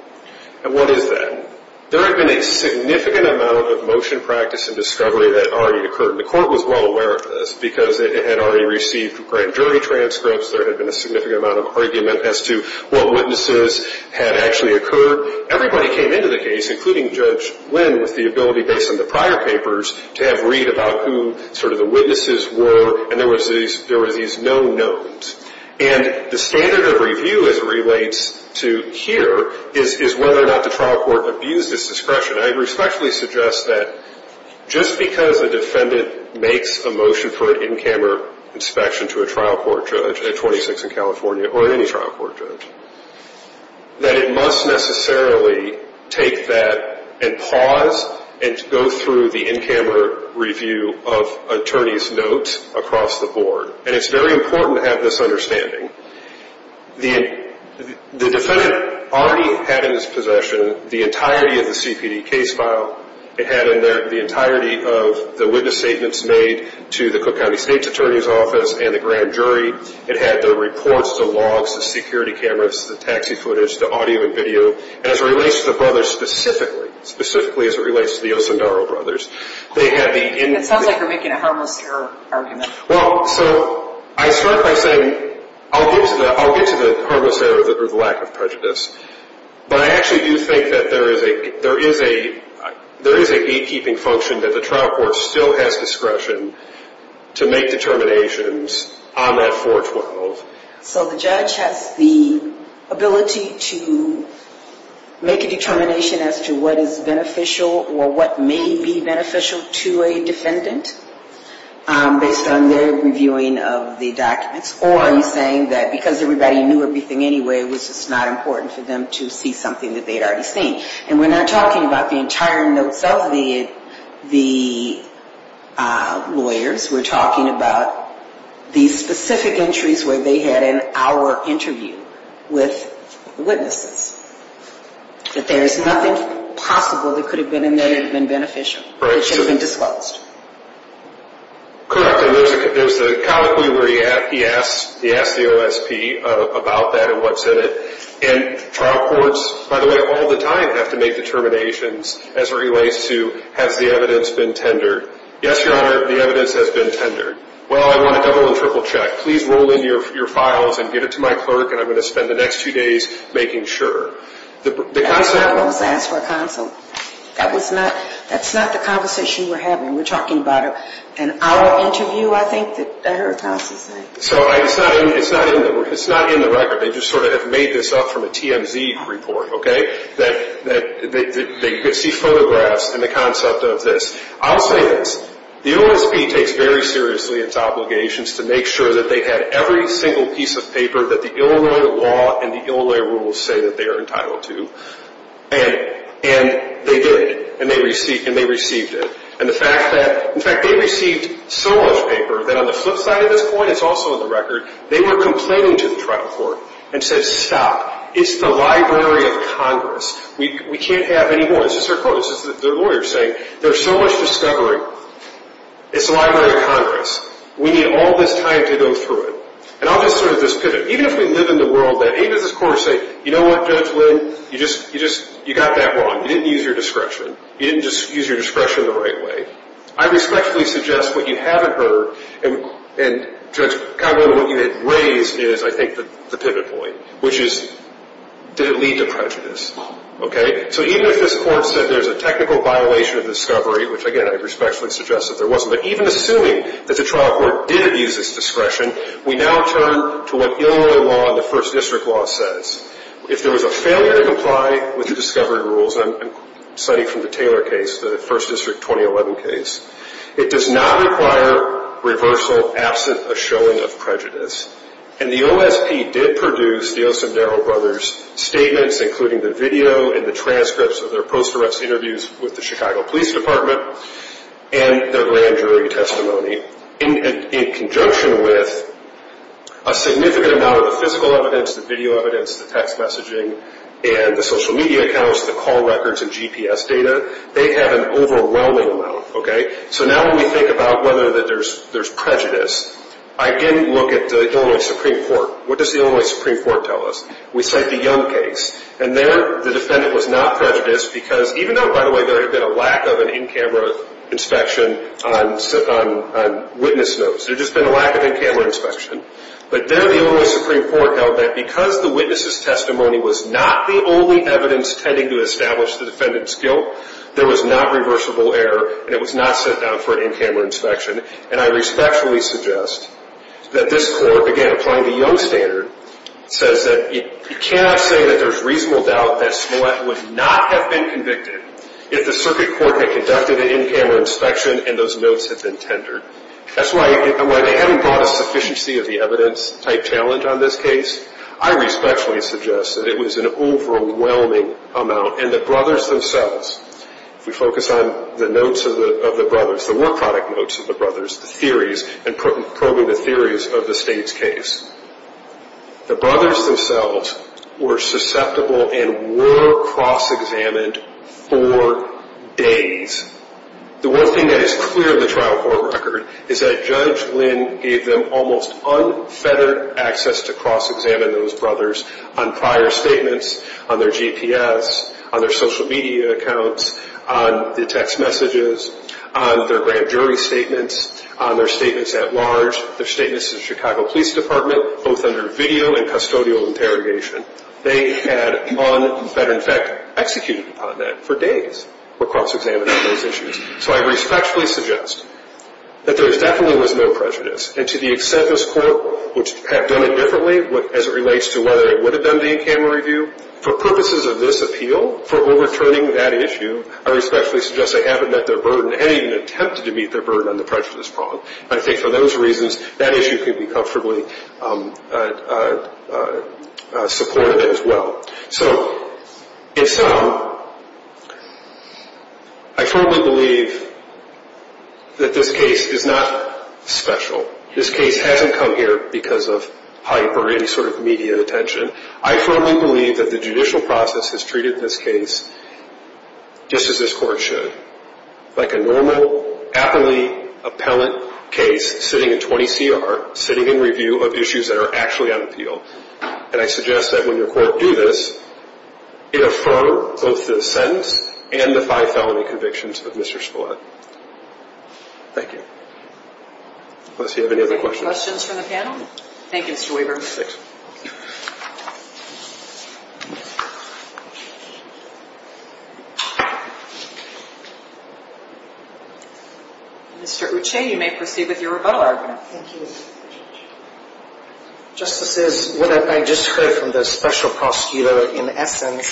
And what is that? There had been a significant amount of motion practice and discovery that already occurred. And the court was well aware of this because it had already received grand jury transcripts. There had been a significant amount of argument as to what witnesses had actually occurred. Everybody came into the case, including Judge Lynn, with the ability, based on the prior papers, to have read about who sort of the witnesses were. And there were these no-nones. And the standard of review as it relates to here is whether or not the trial court abused its discretion. I respectfully suggest that just because a defendant makes a motion for an in-camera inspection to a trial court judge at 26 in California or any trial court judge, that it must necessarily take that and pause and go through the in-camera review of attorney's notes across the board. And it's very important to have this understanding. The defendant already had in his possession the entirety of the CPD case file. It had in there the entirety of the witness statements made to the Cook County State's Attorney's Office and the grand jury. It had the reports, the logs, the security cameras, the taxi footage, the audio and video. And as it relates to the brothers specifically, specifically as it relates to the Osindaro brothers. It sounds like you're making a harmless error argument. Well, so I start by saying I'll get to the harmless error or the lack of prejudice. But I actually do think that there is a gatekeeping function that the trial court still has discretion to make determinations on that 412. So the judge has the ability to make a determination as to what is beneficial or what may be beneficial to a defendant based on their reviewing of the documents. Or are you saying that because everybody knew everything anyway, it was just not important for them to see something that they'd already seen? And we're not talking about the entire notes of the lawyers. We're talking about the specific entries where they had an hour interview with the witnesses. That there is nothing possible that could have been in there that had been beneficial that should have been disclosed. Correct. And there's a colloquy where he asks the OSP about that and what's in it. And trial courts, by the way, all the time have to make determinations as it relates to has the evidence been tendered. Yes, Your Honor, the evidence has been tendered. Well, I want a double and triple check. Please roll in your files and get it to my clerk and I'm going to spend the next two days making sure. That was not what was asked for counsel. That's not the conversation we're having. We're talking about an hour interview, I think, that I heard counsel say. So it's not in the record. They just sort of have made this up from a TMZ report, okay? They see photographs and the concept of this. I'll say this, the OSP takes very seriously its obligations to make sure that they have every single piece of paper that the Illinois law and the Illinois rules say that they are entitled to. And they did. And they received it. And the fact that, in fact, they received so much paper that on the flip side of this point, it's also in the record, they were complaining to the trial court and said, Stop. It's the Library of Congress. We can't have any more. This is their quote. This is their lawyer saying, There's so much discovery. It's the Library of Congress. We need all this time to go through it. And I'll just sort of just pivot. Even if we live in the world that, hey, does this court say, You know what, Judge Lynn, you just got that wrong. You didn't use your discretion. You didn't just use your discretion the right way. I respectfully suggest what you haven't heard. And, Judge Conlon, what you had raised is, I think, the pivot point, which is, Did it lead to prejudice? Okay? So even if this court said there's a technical violation of discovery, which, again, I respectfully suggest that there wasn't, but even assuming that the trial court did use its discretion, we now turn to what Illinois law and the First District law says. If there was a failure to comply with the discovery rules, and I'm citing from the Taylor case, the First District 2011 case, it does not require reversal absent a showing of prejudice. And the OSP did produce the Osindaro brothers' statements, including the video and the transcripts of their post-directs interviews with the Chicago Police Department and their grand jury testimony, in conjunction with a significant amount of the physical evidence, the video evidence, the text messaging, and the social media accounts, the call records and GPS data. They have an overwhelming amount. Okay? So now when we think about whether there's prejudice, I again look at the Illinois Supreme Court. What does the Illinois Supreme Court tell us? We cite the Young case. And there the defendant was not prejudiced because, even though, by the way, there had been a lack of an in-camera inspection on witness notes. There had just been a lack of in-camera inspection. But there the Illinois Supreme Court held that because the witness's testimony was not the only evidence tending to establish the defendant's guilt, there was not reversible error and it was not set down for an in-camera inspection. And I respectfully suggest that this court, again, applying the Young standard, says that you cannot say that there's reasonable doubt that Smollett would not have been convicted if the circuit court had conducted an in-camera inspection and those notes had been tendered. That's why they haven't brought a sufficiency of the evidence type challenge on this case. I respectfully suggest that it was an overwhelming amount. And the brothers themselves, if we focus on the notes of the brothers, the work product notes of the brothers, the theories, and probing the theories of the State's case, the brothers themselves were susceptible and were cross-examined for days. The one thing that is clear in the trial court record is that Judge Lynn gave them almost unfettered access to cross-examine those brothers on prior statements, on their GPS, on their social media accounts, on the text messages, on their grand jury statements, on their statements at large, their statements to the Chicago Police Department, both under video and custodial interrogation. They had unfettered, in fact, executed upon that for days, were cross-examined on those issues. So I respectfully suggest that there definitely was no prejudice. And to the extent this Court would have done it differently, as it relates to whether it would have done the in-camera review, for purposes of this appeal, for overturning that issue, I respectfully suggest they haven't met their burden, and even attempted to meet their burden on the pressure of this problem. And I think for those reasons, that issue could be comfortably supported as well. So, in sum, I firmly believe that this case is not special. This case hasn't come here because of hype or any sort of media attention. I firmly believe that the judicial process has treated this case just as this Court should, like a normal, happily appellate case sitting in 20CR, sitting in review of issues that are actually on appeal. And I suggest that when your Court do this, it affirm both the sentence and the five felony convictions of Mr. Spillett. Thank you. Unless you have any other questions. Any questions from the panel? Thank you, Mr. Weaver. Thanks. Mr. Uche, you may proceed with your rebuttal argument. Thank you. Justices, what I just heard from the Special Prosecutor, in essence,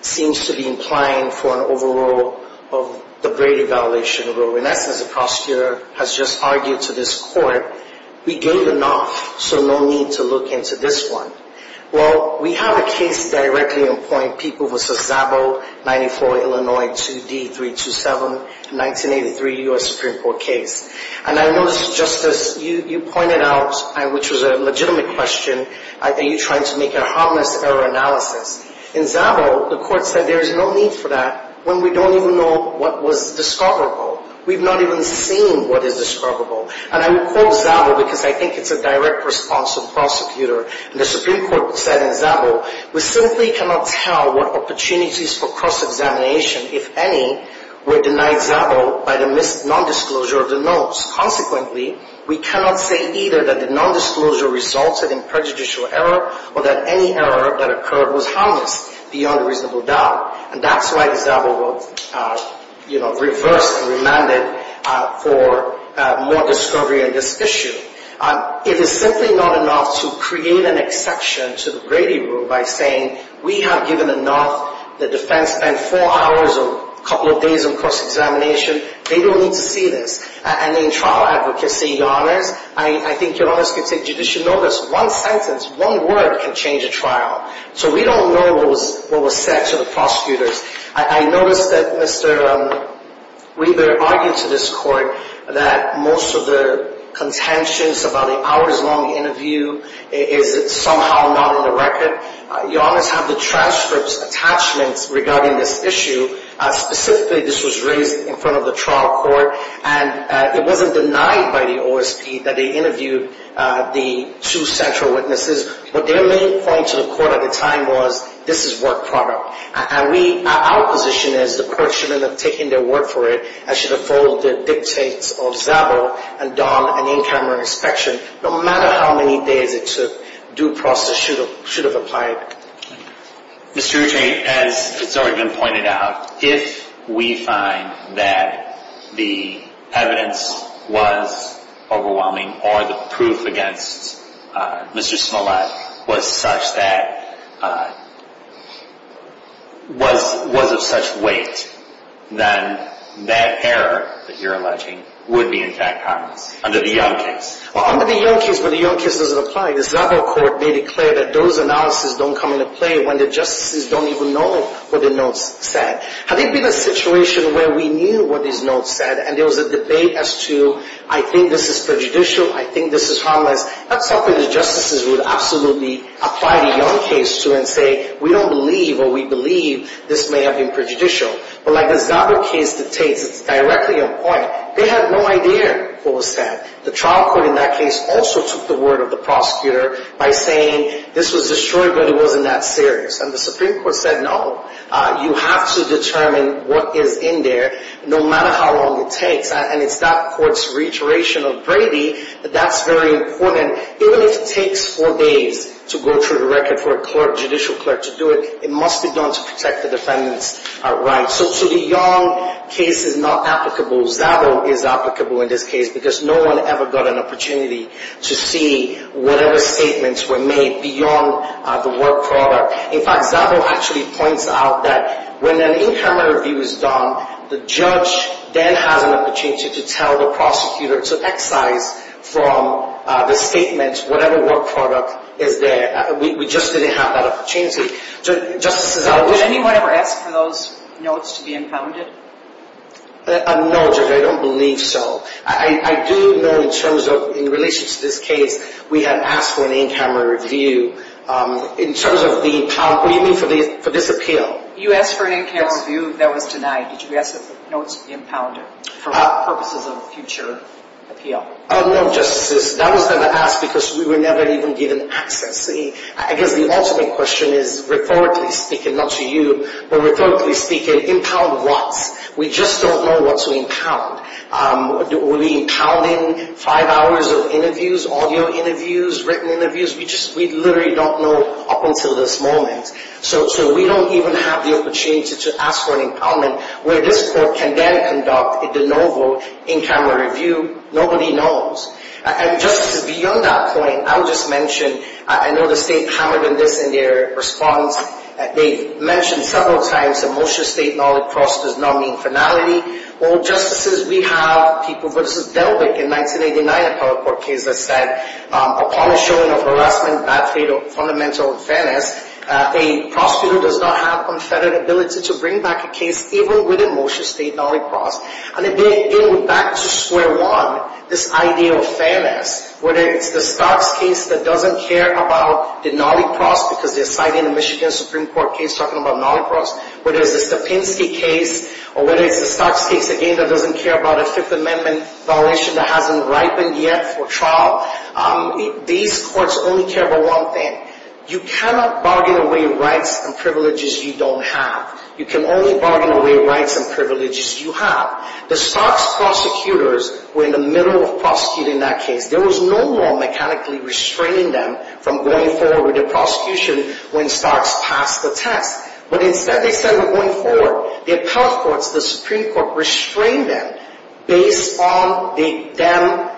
seems to be implying for an overrule of the Brady Validation Rule. In essence, the prosecutor has just argued to this Court, we gave enough, so no need to look into this one. Well, we have a case directly in point, People v. Zabo, 94, Illinois, 2D, 327, 1983, U.S. Supreme Court case. And I noticed, Justice, you pointed out, which was a legitimate question, are you trying to make a harmless error analysis? In Zabo, the Court said there is no need for that when we don't even know what was discoverable. We've not even seen what is discoverable. And I will quote Zabo because I think it's a direct response of the prosecutor. The Supreme Court said in Zabo, we simply cannot tell what opportunities for cross-examination, if any, were denied Zabo by the nondisclosure of the notes. Consequently, we cannot say either that the nondisclosure resulted in prejudicial error or that any error that occurred was harmless beyond reasonable doubt. And that's why Zabo reversed and remanded for more discovery on this issue. It is simply not enough to create an exception to the Brady Rule by saying, we have given enough. The defense spent four hours or a couple of days on cross-examination. They don't need to see this. And in trial advocacy, Your Honors, I think Your Honors can take judicial notice. One sentence, one word can change a trial. So we don't know what was said to the prosecutors. I noticed that Mr. Weaver argued to this Court that most of the contentions about the hours-long interview is somehow not on the record. Your Honors have the transcript attachments regarding this issue. Specifically, this was raised in front of the trial court. And it wasn't denied by the OSP that they interviewed the two central witnesses. But their main point to the court at the time was, this is work product. And we, our position is the court should have taken their word for it and should have followed the dictates of Zabo and done an in-camera inspection, no matter how many days it took. Due process should have applied. Mr. Ruching, as has already been pointed out, if we find that the evidence was overwhelming or the proof against Mr. Smollett was of such weight, then that error that you're alleging would be in fact harmless under the Young case. Well, under the Young case, when the Young case doesn't apply, the Zabo court may declare that those analyses don't come into play when the justices don't even know what the notes said. Had there been a situation where we knew what these notes said and there was a debate as to, I think this is prejudicial, I think this is harmless, that's something the justices would absolutely apply the Young case to and say, we don't believe or we believe this may have been prejudicial. But like the Zabo case dictates, it's directly on point. They had no idea what was said. The trial court in that case also took the word of the prosecutor by saying this was destroyed but it wasn't that serious. And the Supreme Court said, no, you have to determine what is in there, no matter how long it takes. And it's that court's reiteration of Brady that that's very important. Even if it takes four days to go through the record for a judicial clerk to do it, it must be done to protect the defendant's rights. So to the Young case, it's not applicable. Zabo is applicable in this case because no one ever got an opportunity to see whatever statements were made beyond the work product. In fact, Zabo actually points out that when an in-camera review is done, the judge then has an opportunity to tell the prosecutor to excise from the statement whatever work product is there. We just didn't have that opportunity. So, Justice Zabo, would anyone ever ask for those notes to be impounded? No, Judge, I don't believe so. I do know in terms of, in relation to this case, we had asked for an in-camera review. In terms of the impound, what do you mean for this appeal? You asked for an in-camera review that was denied. Did you ask for the notes impounded for purposes of a future appeal? No, Justice, that was never asked because we were never even given access. I guess the ultimate question is, rhetorically speaking, not to you, but rhetorically speaking, impound what? We just don't know what to impound. Will we be impounding five hours of interviews, audio interviews, written interviews? We literally don't know up until this moment. So, we don't even have the opportunity to ask for an impoundment where this court can then conduct a de novo in-camera review. Nobody knows. And, Justice, beyond that point, I'll just mention, I know the State hammered on this in their response. They mentioned several times that Mosher State, Nali Cross does not mean finality. Well, Justices, we have people, but this is Delbick in 1989, a power court case that said, upon the showing of harassment, bad faith, or fundamental unfairness, a prosecutor does not have unfettered ability to bring back a case even within Mosher State, Nali Cross. And again, we're back to square one, this idea of fairness, whether it's the Starks case that doesn't care about the Nali Cross because they're citing a Michigan Supreme Court case talking about Nali Cross, whether it's the Stepinsky case, or whether it's the Starks case, again, that doesn't care about a Fifth Amendment violation that hasn't ripened yet for trial. These courts only care about one thing. You cannot bargain away rights and privileges you don't have. You can only bargain away rights and privileges you have. The Starks prosecutors were in the middle of prosecuting that case. There was no more mechanically restraining them from going forward with their prosecution when Starks passed the test. But instead they said they're going forward. The appellate courts, the Supreme Court, restrained them based on them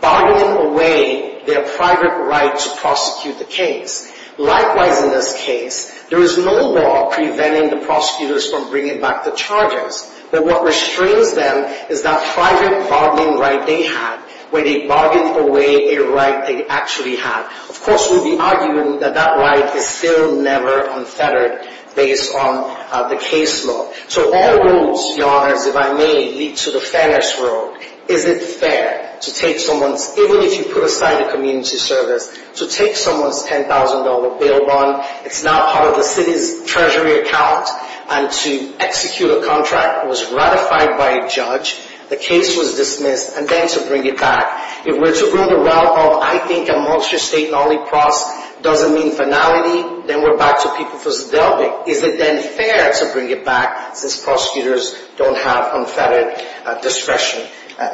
bargaining away their private right to prosecute the case. Likewise, in this case, there was no law preventing the prosecutors from bringing back the charges. But what restrains them is that private bargaining right they had where they bargained away a right they actually had. Of course, we'd be arguing that that right is still never unfettered based on the case law. So all rules, Your Honors, if I may, lead to the fairness road. Is it fair to take someone's, even if you put aside the community service, to take someone's $10,000 bail bond, it's now part of the city's treasury account, and to execute a contract that was ratified by a judge, the case was dismissed, and then to bring it back. If we're to go in the route of, I think, a multi-state lollipop doesn't mean finality, then we're back to people for delving. Is it then fair to bring it back since prosecutors don't have unfettered discretion?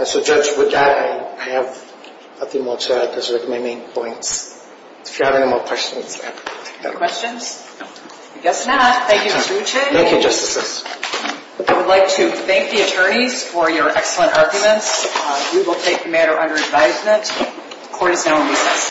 So, Judge, with that, I have nothing more to add. Those are my main points. If you have any more questions. No questions? I guess not. Thank you, Mr. Uche. Thank you, Justices. I would like to thank the attorneys for your excellent arguments. We will take the matter under advisement. Court is now in recess.